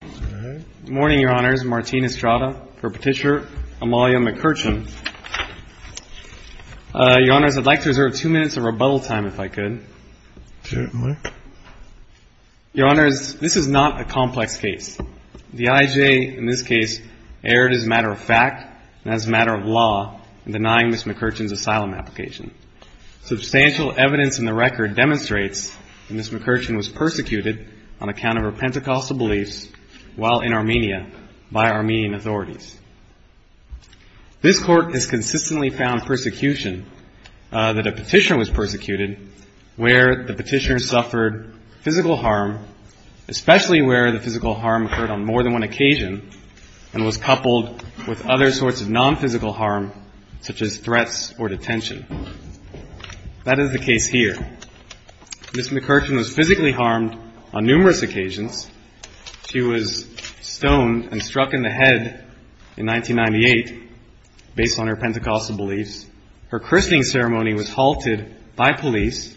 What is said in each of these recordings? Good morning, Your Honors. This is not a complex case. The IJ, in this case, erred as a matter of fact and as a matter of law in denying Ms. McCurchan's asylum application. Substantial evidence in the record demonstrates that Ms. McCurchan was persecuted on account of her while in Armenia by Armenian authorities. This Court has consistently found persecution that a petitioner was persecuted where the petitioner suffered physical harm, especially where the physical harm occurred on more than one occasion and was coupled with other sorts of non-physical harm such as threats or detention. That is the case here. Ms. McCurchan was physically harmed on numerous occasions. She was stoned and struck in the head in 1998 based on her Pentecostal beliefs. Her christening ceremony was halted by police.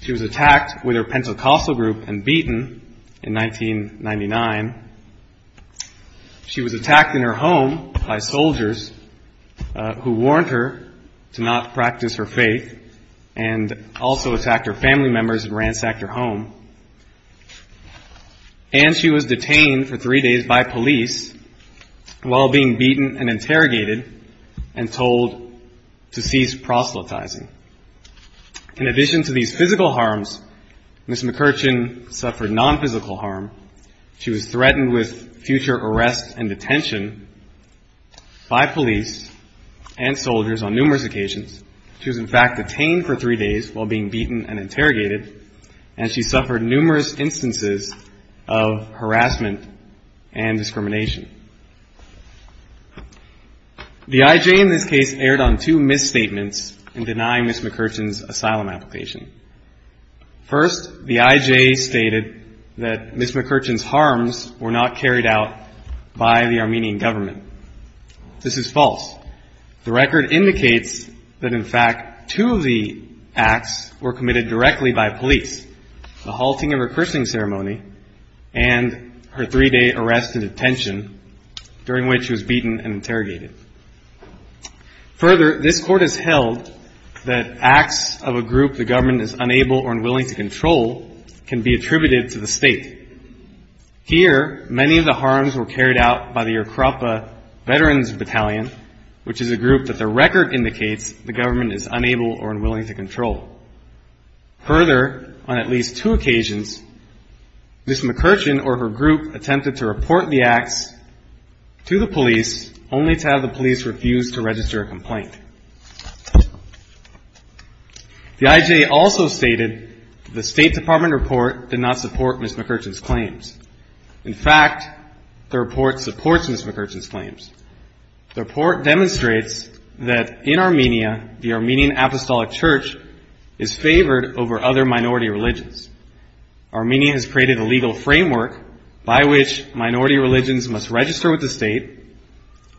She was attacked with her Pentecostal group and beaten in 1999. She was attacked in her home by soldiers who warned her to not practice her faith and also attacked her family members and ransacked her home. And she was detained for three days by police while being beaten and interrogated and told to cease proselytizing. In addition to these physical harms, Ms. McCurchan suffered non-physical harm. She was threatened with future arrests and detention by police and soldiers on numerous occasions. She was in fact detained for three days while being beaten and interrogated and she suffered numerous instances of harassment and discrimination. The I.J. in this case erred on two misstatements in denying Ms. McCurchan's asylum application. First, the I.J. stated that Ms. McCurchan's harms were not carried out by the Armenian government. This is false. The record indicates that in fact two of the acts were committed directly by police, the halting of her christening ceremony and her three-day arrest and detention during which she was beaten and interrogated. Further, this court has held that acts of a government is unable or unwilling to control can be attributed to the state. Here, many of the harms were carried out by the Akrapa Veterans Battalion, which is a group that the record indicates the government is unable or unwilling to control. Further, on at least two occasions, Ms. McCurchan or her group attempted to report the acts to the police stated the State Department report did not support Ms. McCurchan's claims. In fact, the report supports Ms. McCurchan's claims. The report demonstrates that in Armenia, the Armenian Apostolic Church is favored over other minority religions. Armenia has created a legal framework by which minority religions must register with the state,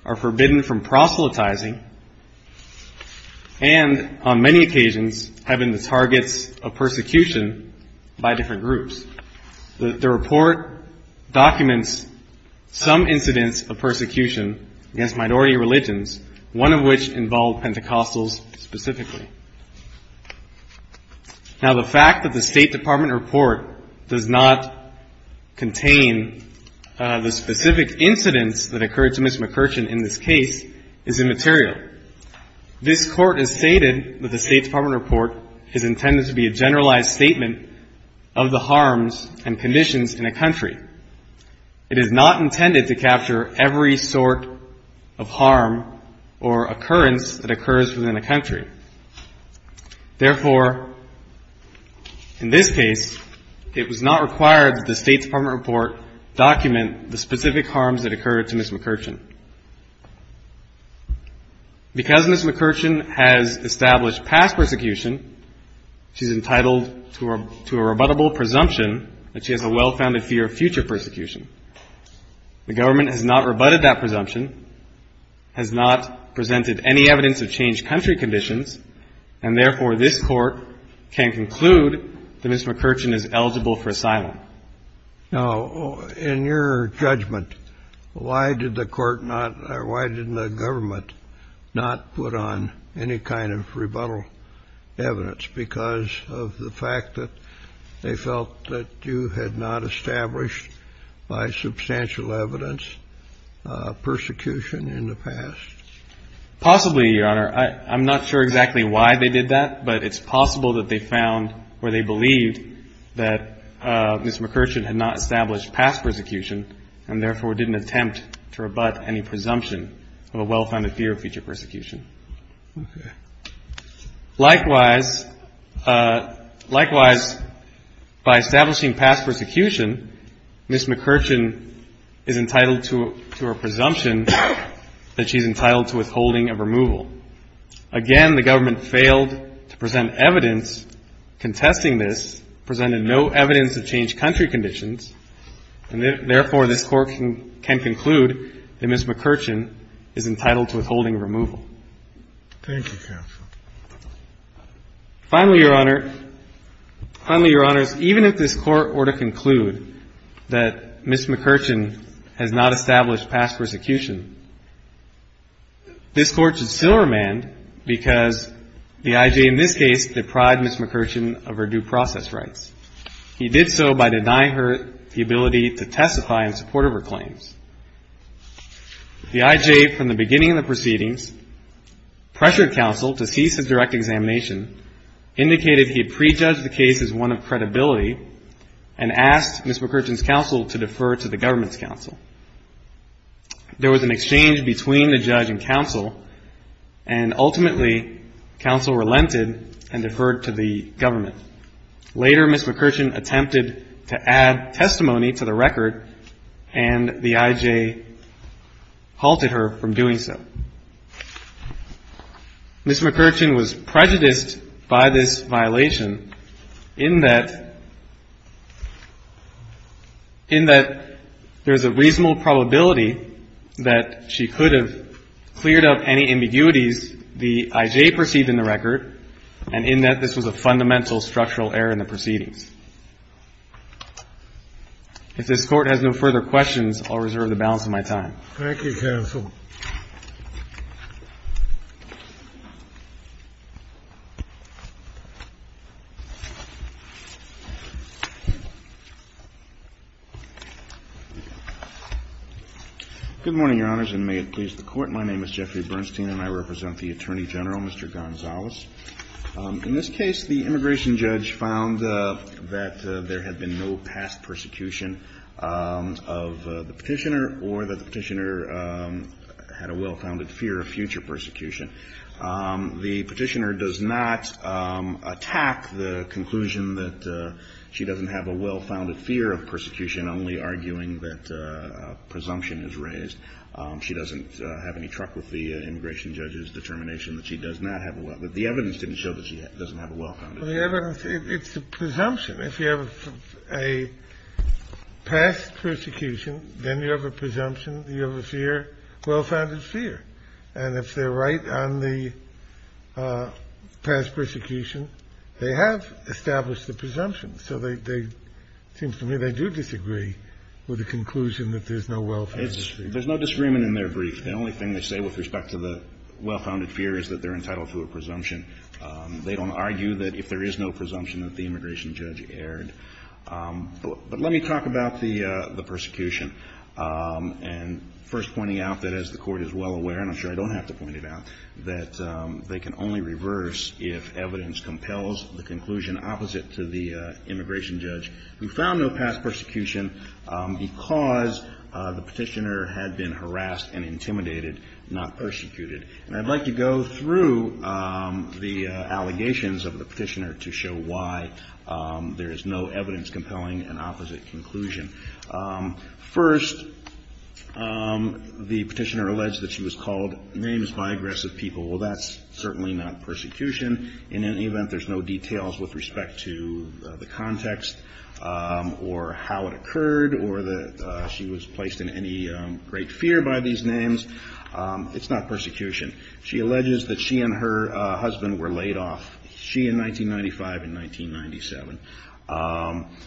are forbidden from proselytizing, and on many occasions have been the targets of persecution by different groups. The report documents some incidents of persecution against minority religions, one of which involved Pentecostals specifically. Now, the fact that the State Department report does not contain the specific incidents that occurred to Ms. McCurchan in this case is immaterial. This Court has stated that the State Department report is intended to be a generalized statement of the harms and conditions in a country. It is not intended to capture every sort of harm or occurrence that occurs within a country. Therefore, in this case, it was not required that the State Department report document the specific harms that occurred to Ms. McCurchan. Because Ms. McCurchan has established past persecution, she's entitled to a rebuttable presumption that she has a well-founded fear of future persecution. The government has not rebutted that presumption, has not presented any evidence of changed country conditions, and therefore, this Court can conclude that Ms. McCurchan is eligible for asylum. Now, in your judgment, why did the Court not, or why didn't the government not put on any kind of rebuttal evidence because of the fact that they felt that you had not established by substantial evidence persecution in the past? Possibly, Your Honor. I'm not sure exactly why they did that, but it's possible that they found or they believed that Ms. McCurchan had not established past persecution and therefore didn't attempt to rebut any presumption of a well-founded fear of future persecution. Likewise, by establishing past persecution, Ms. McCurchan is entitled to a presumption that she's entitled to withholding a removal. Again, the government failed to present evidence contesting this, presented no evidence of changed country conditions, and therefore, this Court can conclude that Ms. McCurchan is entitled to withholding a removal. Thank you, counsel. Finally, Your Honor, finally, Your Honors, even if this Court were to conclude that Ms. McCurchan had not established past persecution, this Court should still remand because the I.J. in this case deprived Ms. McCurchan of her due process rights. He did so by denying her the ability to testify in support of her claims. The I.J., from the beginning of the proceedings, pressured counsel to cease his direct examination, indicated he had prejudged the case as one of credibility, and asked Ms. McCurchan's counsel to defer to the government's counsel. There was an exchange between the judge and counsel, and ultimately, counsel relented and deferred to the government. Later, Ms. McCurchan attempted to add testimony to the record, and the I.J. halted her from doing so. Ms. McCurchan was prejudiced by this violation in that, in that there's a reasonable probability that she could have cleared up any ambiguities the I.J. perceived in the record, and in that this was a fundamental structural error in the proceedings. If this Court has no further questions, I'll reserve the balance of my time. Thank you, counsel. Good morning, Your Honors, and may it please the Court. My name is Jeffrey Bernstein, and I represent the Attorney General, Mr. Gonzalez. In this case, the immigration judge found that there had been no past persecution of the Petitioner or that the Petitioner had a well-founded fear of future persecution. The Petitioner does not attack the conclusion that she doesn't have a well-founded fear of persecution, only arguing that a presumption is raised. She doesn't have any truck with the immigration judge's determination that she does not have a well-founded fear. But the evidence didn't show that she doesn't have a well-founded fear. Well, the evidence, it's a presumption. If you have a past persecution, then you have a presumption, you have a fear, well-founded fear. And if they're right on the past persecution, they have established the presumption. So they seem to me they do disagree with the conclusion that there's no well-founded fear. There's no disagreement in their brief. The only thing they say with respect to the well-founded fear is that they're entitled to a presumption. They don't argue that if there is no presumption that the immigration judge erred. But let me talk about the persecution. And first pointing out that, as the Court is well aware, and I'm sure I don't have to point it out, that they can only reverse if evidence compels the conclusion opposite to the immigration judge who found no past persecution because the Petitioner had been harassed and intimidated, not persecuted. And I'd like to go through the allegations of the Petitioner to show why there is no evidence compelling an opposite conclusion. First, the Petitioner alleged that she was called names by aggressive people. Well, that's certainly not persecution. In any event, there's no details with respect to the context or how it occurred or that she was placed in any great fear by these names. It's not persecution. She alleges that she and her husband were laid off, she in 1995 and 1997.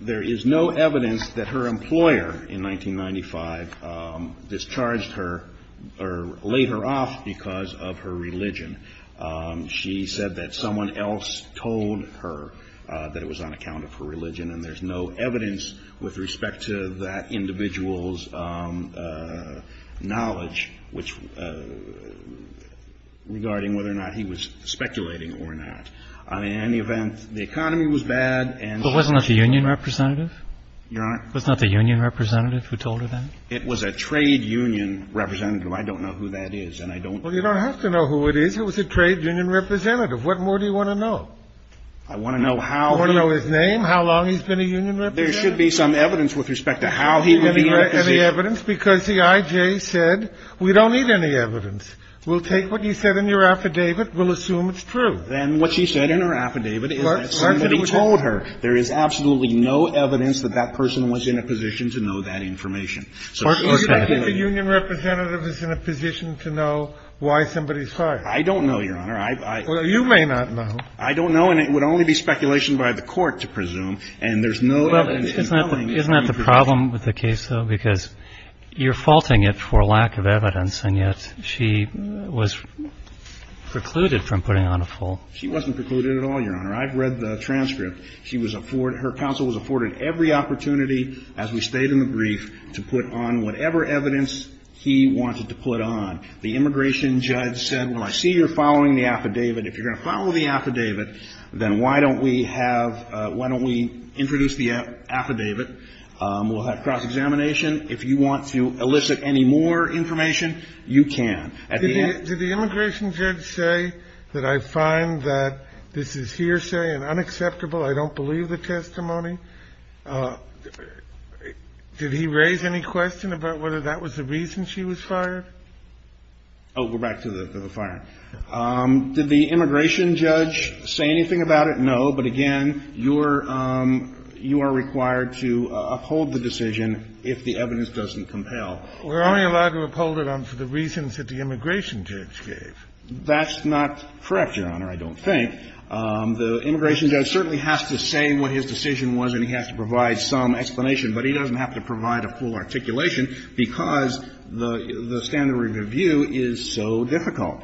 There is no evidence that her employer in 1995 discharged her or laid her off because of her religion. She said that someone else told her that it was on account of her religion, and there's no evidence with respect to that individual's knowledge regarding whether or not he was speculating or not. I mean, in any event, the economy was bad and so forth. But wasn't that the union representative? Your Honor? Wasn't that the union representative who told her that? It was a trade union representative. I don't know who that is, and I don't Well, you don't have to know who it is. It was a trade union representative. What more do you want to know? I want to know how You want to know his name, how long he's been a union member, There should be some evidence with respect to how he would be represented. Any evidence? Because the I.J. said we don't need any evidence. We'll take what you said in your affidavit. We'll assume it's true. And what she said in her affidavit is that somebody told her. There is absolutely no evidence that that person was in a position to know that information. I think the union representative is in a position to know why somebody's fired. I don't know, Your Honor. Well, you may not know. I don't know, and it would only be speculation by the court to presume. And there's no evidence compelling me. Isn't that the problem with the case, though? Because you're faulting it for lack of evidence, and yet she was precluded from putting on a fault. She wasn't precluded at all, Your Honor. I've read the transcript. She was afforded, her counsel was afforded every opportunity, as we state in the brief, to put on whatever evidence he wanted to put on. The immigration judge said, well, I see you're following the affidavit. If you're going to follow the affidavit, then why don't we have, why don't we introduce the affidavit? We'll have cross-examination. If you want to elicit any more information, you can. Did the immigration judge say that I find that this is hearsay and unacceptable, I don't believe the testimony? Did he raise any question about whether that was the reason she was fired? Oh, we're back to the firing. Did the immigration judge say anything about it? No, but again, you're, you are required to uphold the decision if the evidence doesn't compel. We're only allowed to uphold it for the reasons that the immigration judge gave. That's not correct, Your Honor, I don't think. The immigration judge certainly has to say what his decision was and he has to provide some explanation, but he doesn't have to provide a full articulation because the standard of review is so difficult.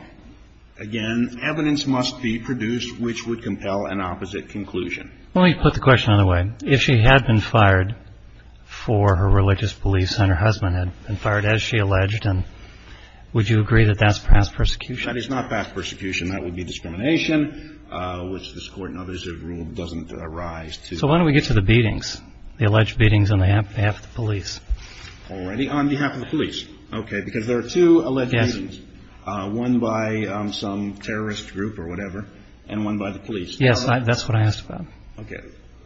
Again, evidence must be produced which would compel an opposite conclusion. Let me put the question another way. If she had been fired for her religious beliefs and her husband had been fired as she alleged, would you agree that that's past persecution? That is not past persecution. That would be discrimination, which this Court and others have ruled doesn't arise to. So why don't we get to the beatings, the alleged beatings on behalf of the police? Already on behalf of the police. Okay, because there are two alleged beatings. Yes. One by some terrorist group or whatever and one by the police. Yes, that's what I asked about. Okay.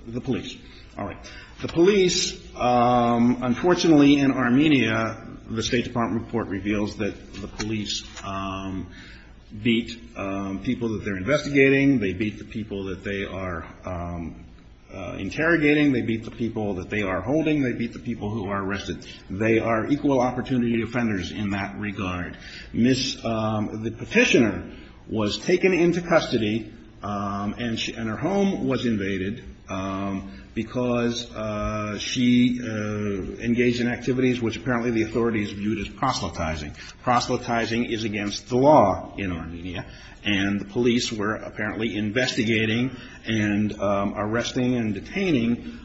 The police. All right. The police, unfortunately, in Armenia, the State Department report reveals that the police beat people that they're investigating. They beat the people that they are interrogating. They beat the people that they are holding. They beat the people who are arrested. They are equal opportunity offenders in that regard. The petitioner was taken into custody and her home was invaded because she engaged in activities which apparently the authorities viewed as proselytizing. Proselytizing is against the law in Armenia, and the police were apparently investigating and arresting and detaining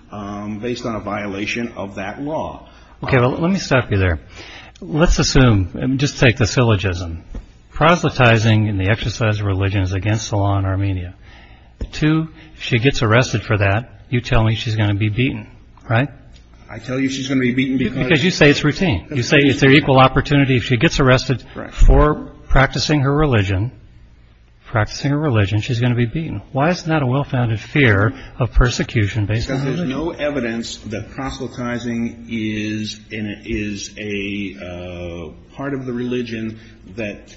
based on a violation of that law. Okay, let me stop you there. Let's assume, just take the syllogism. Proselytizing in the exercise of religion is against the law in Armenia. Two, if she gets arrested for that, you tell me she's going to be beaten, right? I tell you she's going to be beaten because... Because you say it's routine. You say it's their equal opportunity. If she gets arrested for practicing her religion, practicing her religion, she's going to be beaten. Why is that a well-founded fear of persecution based on religion? Because there's no evidence that proselytizing is a part of the religion that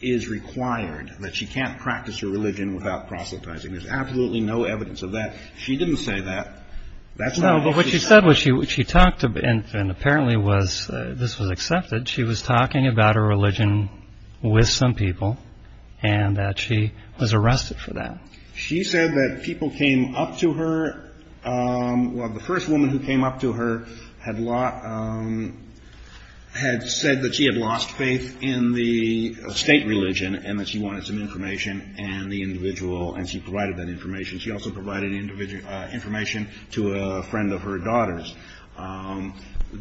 is required, that she can't practice her religion without proselytizing. There's absolutely no evidence of that. She didn't say that. No, but what she said was she talked, and apparently this was accepted, she was talking about her religion with some people and that she was arrested for that. She said that people came up to her, well, the first woman who came up to her had said that she had lost faith in the state religion and that she wanted some information and the individual, and she provided that information. She also provided information to a friend of her daughter's.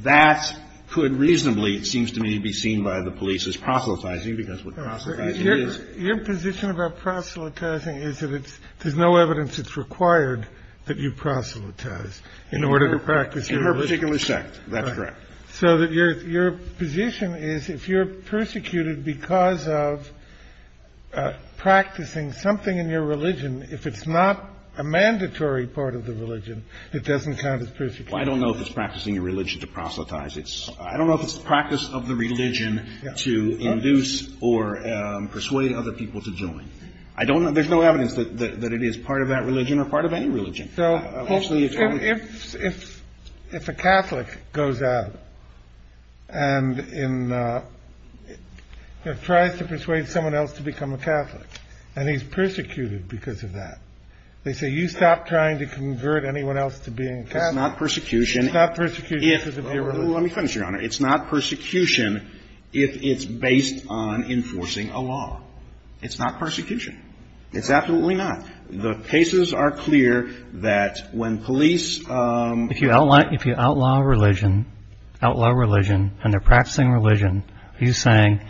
That could reasonably, it seems to me, be seen by the police as proselytizing because what proselytizing is... There's no evidence it's required that you proselytize in order to practice your religion. In her particular sect, that's correct. So your position is if you're persecuted because of practicing something in your religion, if it's not a mandatory part of the religion, it doesn't count as persecution. Well, I don't know if it's practicing your religion to proselytize. I don't know if it's the practice of the religion to induce or persuade other people to join. I don't know. There's no evidence that it is part of that religion or part of any religion. So if a Catholic goes out and tries to persuade someone else to become a Catholic and he's persecuted because of that, they say you stop trying to convert anyone else to being Catholic. It's not persecution. It's not persecution because of your religion. Let me finish, Your Honor. It's not persecution if it's based on enforcing a law. It's not persecution. It's absolutely not. The cases are clear that when police... If you outlaw religion and they're practicing religion, are you saying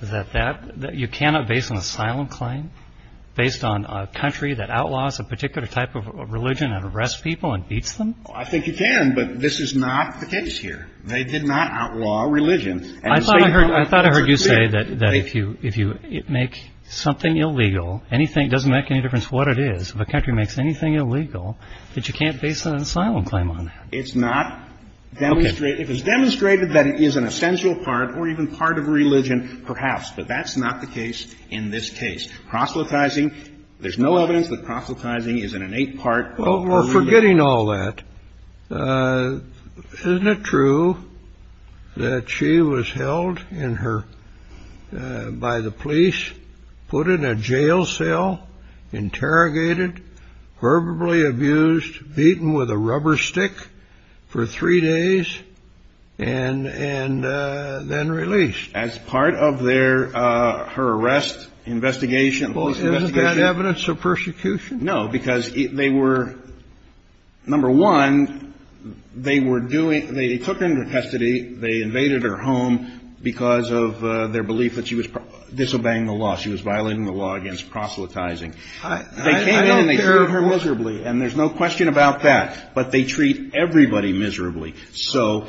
that you cannot base an asylum claim based on a country that outlaws a particular type of religion and arrests people and beats them? I think you can, but this is not the case here. They did not outlaw religion. I thought I heard you say that if you make something illegal, it doesn't make any difference what it is, if a country makes anything illegal, that you can't base an asylum claim on that. It's not. If it's demonstrated that it is an essential part or even part of a religion, perhaps, but that's not the case in this case. Proselytizing, there's no evidence that proselytizing is an innate part of a religion. Well, we're forgetting all that. Isn't it true that she was held by the police, put in a jail cell, interrogated, verbally abused, beaten with a rubber stick for three days, and then released? As part of her arrest investigation... Isn't that evidence of persecution? No, because they were, number one, they were doing, they took her into custody, they invaded her home because of their belief that she was disobeying the law, she was violating the law against proselytizing. I don't care. They came in and they treated her miserably, and there's no question about that. But they treat everybody miserably. So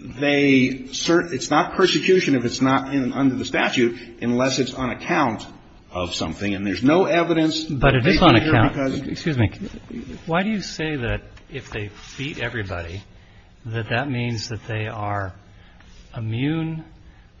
they, it's not persecution if it's not under the statute, unless it's on account of something. And there's no evidence. But it is on account. Excuse me. Why do you say that if they beat everybody, that that means that they are immune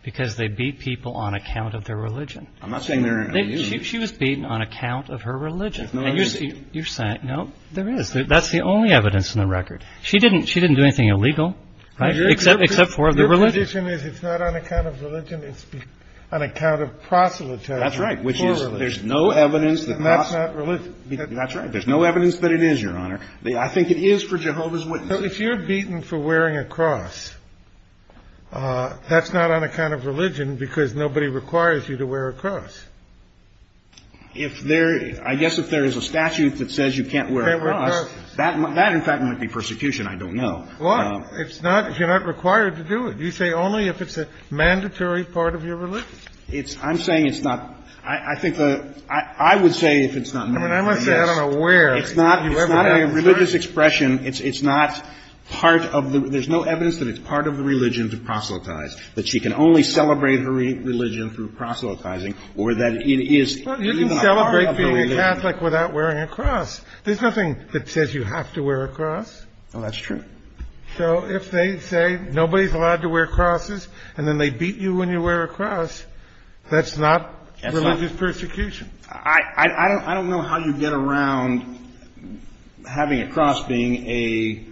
because they beat people on account of their religion? I'm not saying they're immune. She was beaten on account of her religion. There's no evidence. You're saying, no, there is. That's the only evidence in the record. She didn't do anything illegal, except for the religion. Your position is it's not on account of religion, it's on account of proselytizing. That's right. There's no evidence. And that's not religion. That's right. There's no evidence that it is, Your Honor. I think it is for Jehovah's Witnesses. But if you're beaten for wearing a cross, that's not on account of religion because nobody requires you to wear a cross. If there, I guess if there is a statute that says you can't wear a cross, that in fact might be persecution. I don't know. Why? It's not, you're not required to do it. You say only if it's a mandatory part of your religion. It's, I'm saying it's not, I think the, I would say if it's not mandatory, yes. I mean, I'm going to say I don't know where. It's not, it's not a religious expression. It's not part of the, there's no evidence that it's part of the religion to proselytize, that she can only celebrate her religion through proselytizing or that it is even a part of the religion. Well, you can celebrate being a Catholic without wearing a cross. There's nothing that says you have to wear a cross. Well, that's true. So if they say nobody's allowed to wear crosses and then they beat you when you wear a cross, that's not religious persecution. I don't know how you get around having a cross being a,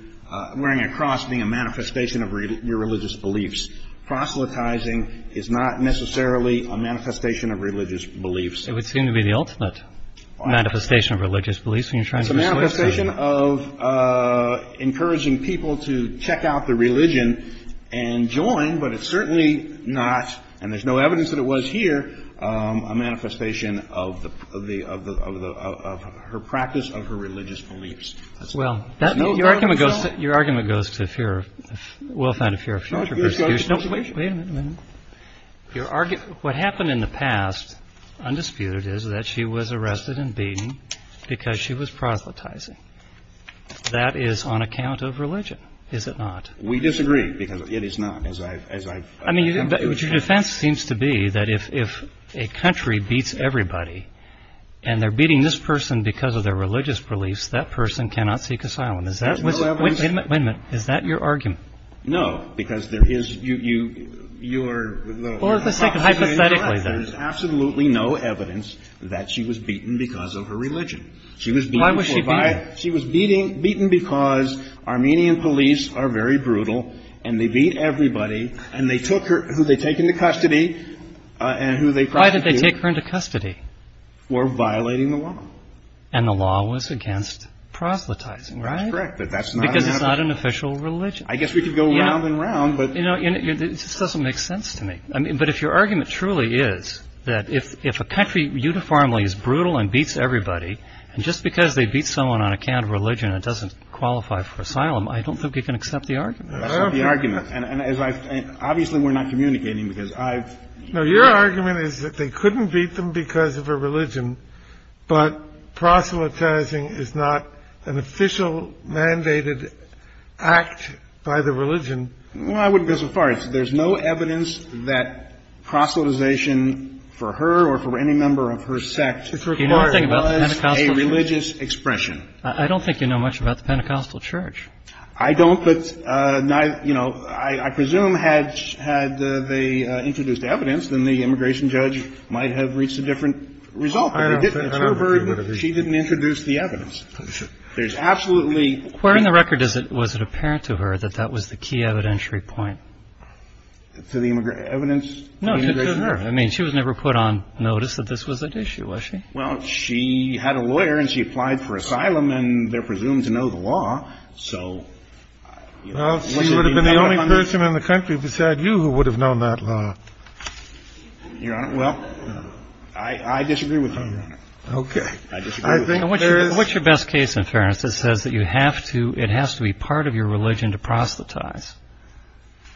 wearing a cross being a manifestation of your religious beliefs. Proselytizing is not necessarily a manifestation of religious beliefs. It would seem to be the ultimate manifestation of religious beliefs when you're trying to get people to check out the religion and join. But it's certainly not, and there's no evidence that it was here, a manifestation of the, of the, of the, of her practice, of her religious beliefs. Well, your argument goes, your argument goes to fear of, we'll find a fear of future persecution. No, wait a minute. Wait a minute. Your argument, what happened in the past, undisputed, is that she was arrested and beaten because she was proselytizing. That is on account of religion, is it not? We disagree, because it is not, as I've, as I've. I mean, your defense seems to be that if, if a country beats everybody and they're beating this person because of their religious beliefs, that person cannot seek asylum. There's no evidence. Wait a minute. Wait a minute. Is that your argument? No, because there is, you, you, you're. Well, let's take it hypothetically, then. There's absolutely no evidence that she was beaten because of her religion. Why was she beaten? Right. She was beating, beaten because Armenian police are very brutal and they beat everybody and they took her, who they take into custody and who they prosecute. Why did they take her into custody? For violating the law. And the law was against proselytizing, right? That's correct, but that's not. Because it's not an official religion. I guess we could go round and round, but. You know, it just doesn't make sense to me. I mean, but if your argument truly is that if, if a country uniformly is brutal and beats everybody, and just because they beat someone on account of religion, it doesn't qualify for asylum. I don't think you can accept the argument. I accept the argument. And as I, obviously we're not communicating because I've. No, your argument is that they couldn't beat them because of a religion, but proselytizing is not an official mandated act by the religion. Well, I wouldn't go so far. There's no evidence that proselytization for her or for any member of her sect. The only thing about the Pentecostal church. A religious expression. I don't think you know much about the Pentecostal church. I don't, but, you know, I presume had, had they introduced evidence, then the immigration judge might have reached a different result. It's her burden if she didn't introduce the evidence. There's absolutely. According to the record, was it apparent to her that that was the key evidentiary point? To the evidence? No, to her. I mean, she was never put on notice that this was an issue, was she? Well, she had a lawyer and she applied for asylum and they're presumed to know the law, so. Well, she would have been the only person in the country beside you who would have known that law. Your Honor, well, I disagree with you, Your Honor. Okay. I disagree with you. What's your best case in fairness that says that you have to, it has to be part of your religion to proselytize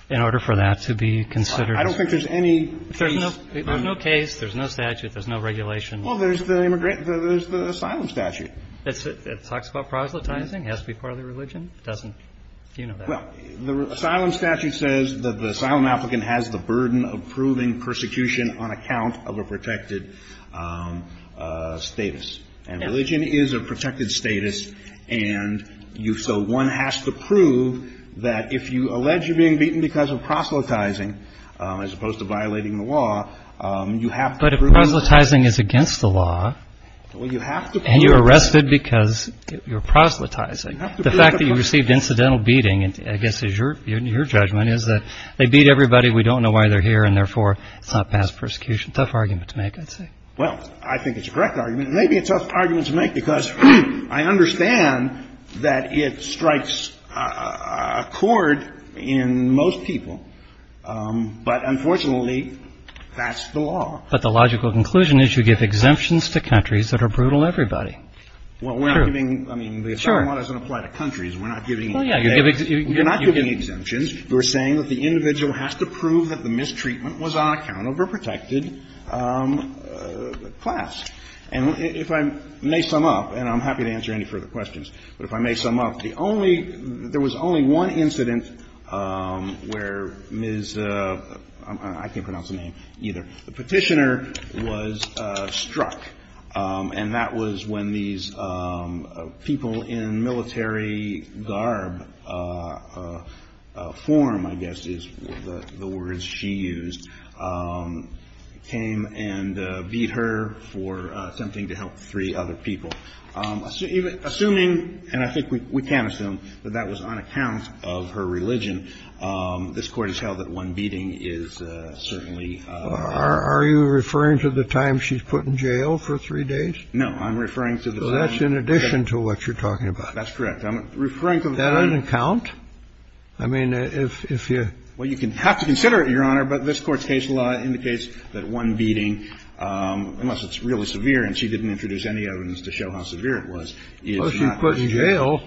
in order for that to be considered? I don't think there's any case. There's no case, there's no statute, there's no regulation. Well, there's the asylum statute. It talks about proselytizing? It has to be part of the religion? It doesn't? Do you know that? Well, the asylum statute says that the asylum applicant has the burden of proving persecution on account of a protected status. And religion is a protected status and you, so one has to prove that if you allege you're being beaten because of proselytizing as opposed to violating the law, you have to prove that. But if proselytizing is against the law and you're arrested because you're proselytizing, the fact that you received incidental beating, I guess is your judgment, is that they beat everybody, we don't know why they're here, and therefore it's not past persecution. Tough argument to make, I'd say. Well, I think it's a correct argument. It may be a tough argument to make because I understand that it strikes a chord in most people, but unfortunately that's the law. But the logical conclusion is you give exemptions to countries that are brutal to everybody. True. Well, we're not giving – I mean, the asylum law doesn't apply to countries. We're not giving – Well, yeah, you give – You're not giving exemptions. You're saying that the individual has to prove that the mistreatment was on account of a protected class. And if I may sum up, and I'm happy to answer any further questions, but if I may sum up, the only – there was only one incident where Ms. – I can't pronounce the name either – the petitioner was struck. And that was when these people in military garb form, I guess is the words she used, came and beat her for attempting to help three other people. Assuming – and I think we can assume – that that was on account of her religion, this Court has held that one beating is certainly – Are you referring to the time she's put in jail for three days? No. I'm referring to the time – So that's in addition to what you're talking about. That's correct. I'm referring to the time – That doesn't count? I mean, if you – Well, you can have to consider it, Your Honor, but this Court's case law indicates that one beating, unless it's really severe, and she didn't introduce any evidence to show how severe it was, is not – Well, she's put in jail.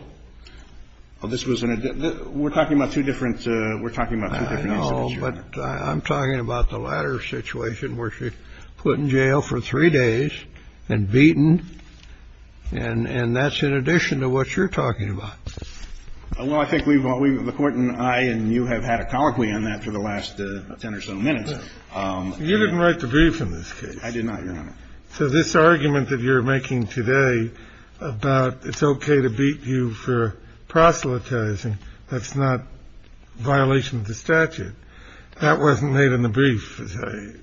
Well, this was – we're talking about two different – we're talking about two different incidents, Your Honor. I know, but I'm talking about the latter situation, where she's put in jail for three days and beaten, and that's in addition to what you're talking about. Well, I think we've – the Court and I and you have had a colloquy on that for the last ten or so minutes. You didn't write the brief in this case. I did not, Your Honor. So this argument that you're making today about it's okay to beat you for proselytizing, that's not violation of the statute. That wasn't made in the brief, as I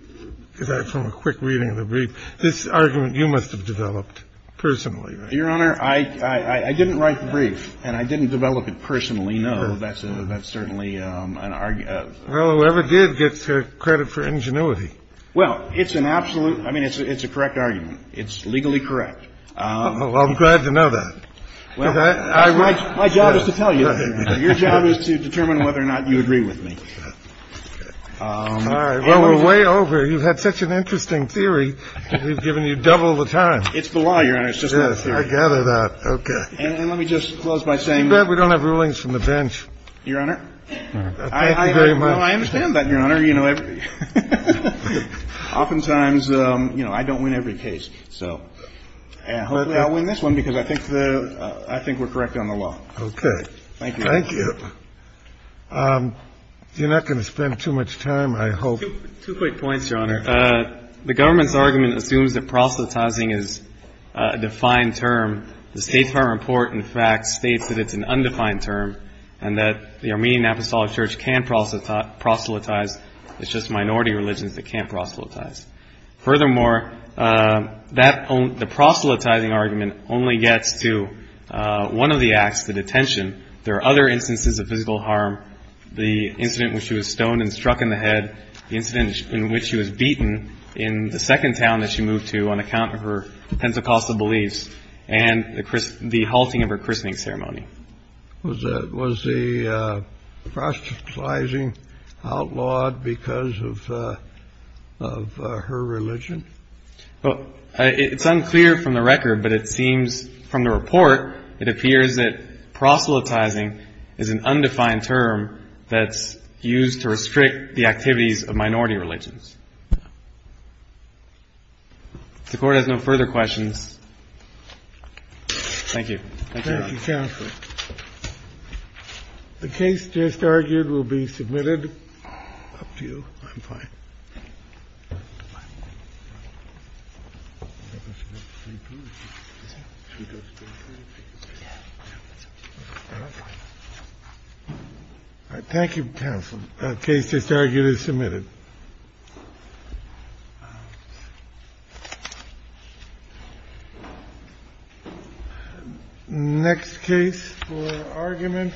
– from a quick reading of the brief. This argument you must have developed personally, right? Your Honor, I didn't write the brief, and I didn't develop it personally, no. That's certainly an – Well, whoever did gets credit for ingenuity. Well, it's an absolute – I mean, it's a correct argument. It's legally correct. Well, I'm glad to know that. My job is to tell you. Your job is to determine whether or not you agree with me. All right. Well, we're way over. You've had such an interesting theory, we've given you double the time. It's the law, Your Honor. It's just not a theory. Yes, I gather that. Okay. And let me just close by saying – Too bad we don't have rulings from the bench. Your Honor, I understand that, Your Honor. Your Honor, you know, oftentimes, you know, I don't win every case. So hopefully I'll win this one because I think the – I think we're correct on the law. Okay. Thank you. Thank you. You're not going to spend too much time, I hope. Two quick points, Your Honor. The government's argument assumes that proselytizing is a defined term. The State Farm Report, in fact, states that it's an undefined term and that the Armenian Apostolic Church can't proselytize. It's just minority religions that can't proselytize. Furthermore, the proselytizing argument only gets to one of the acts, the detention. There are other instances of physical harm, the incident when she was stoned and struck in the head, the incident in which she was beaten in the second town that she moved to on account of her Pentecostal beliefs, and the halting of her christening ceremony. Was the proselytizing outlawed because of her religion? Well, it's unclear from the record, but it seems from the report, it appears that proselytizing is an undefined term that's used to restrict the activities of minority religions. If the Court has no further questions, thank you. Thank you, Counsel. The case just argued will be submitted. Up to you. I'm fine. Thank you, Counsel. The case just argued is submitted. Thank you. Next case for argument.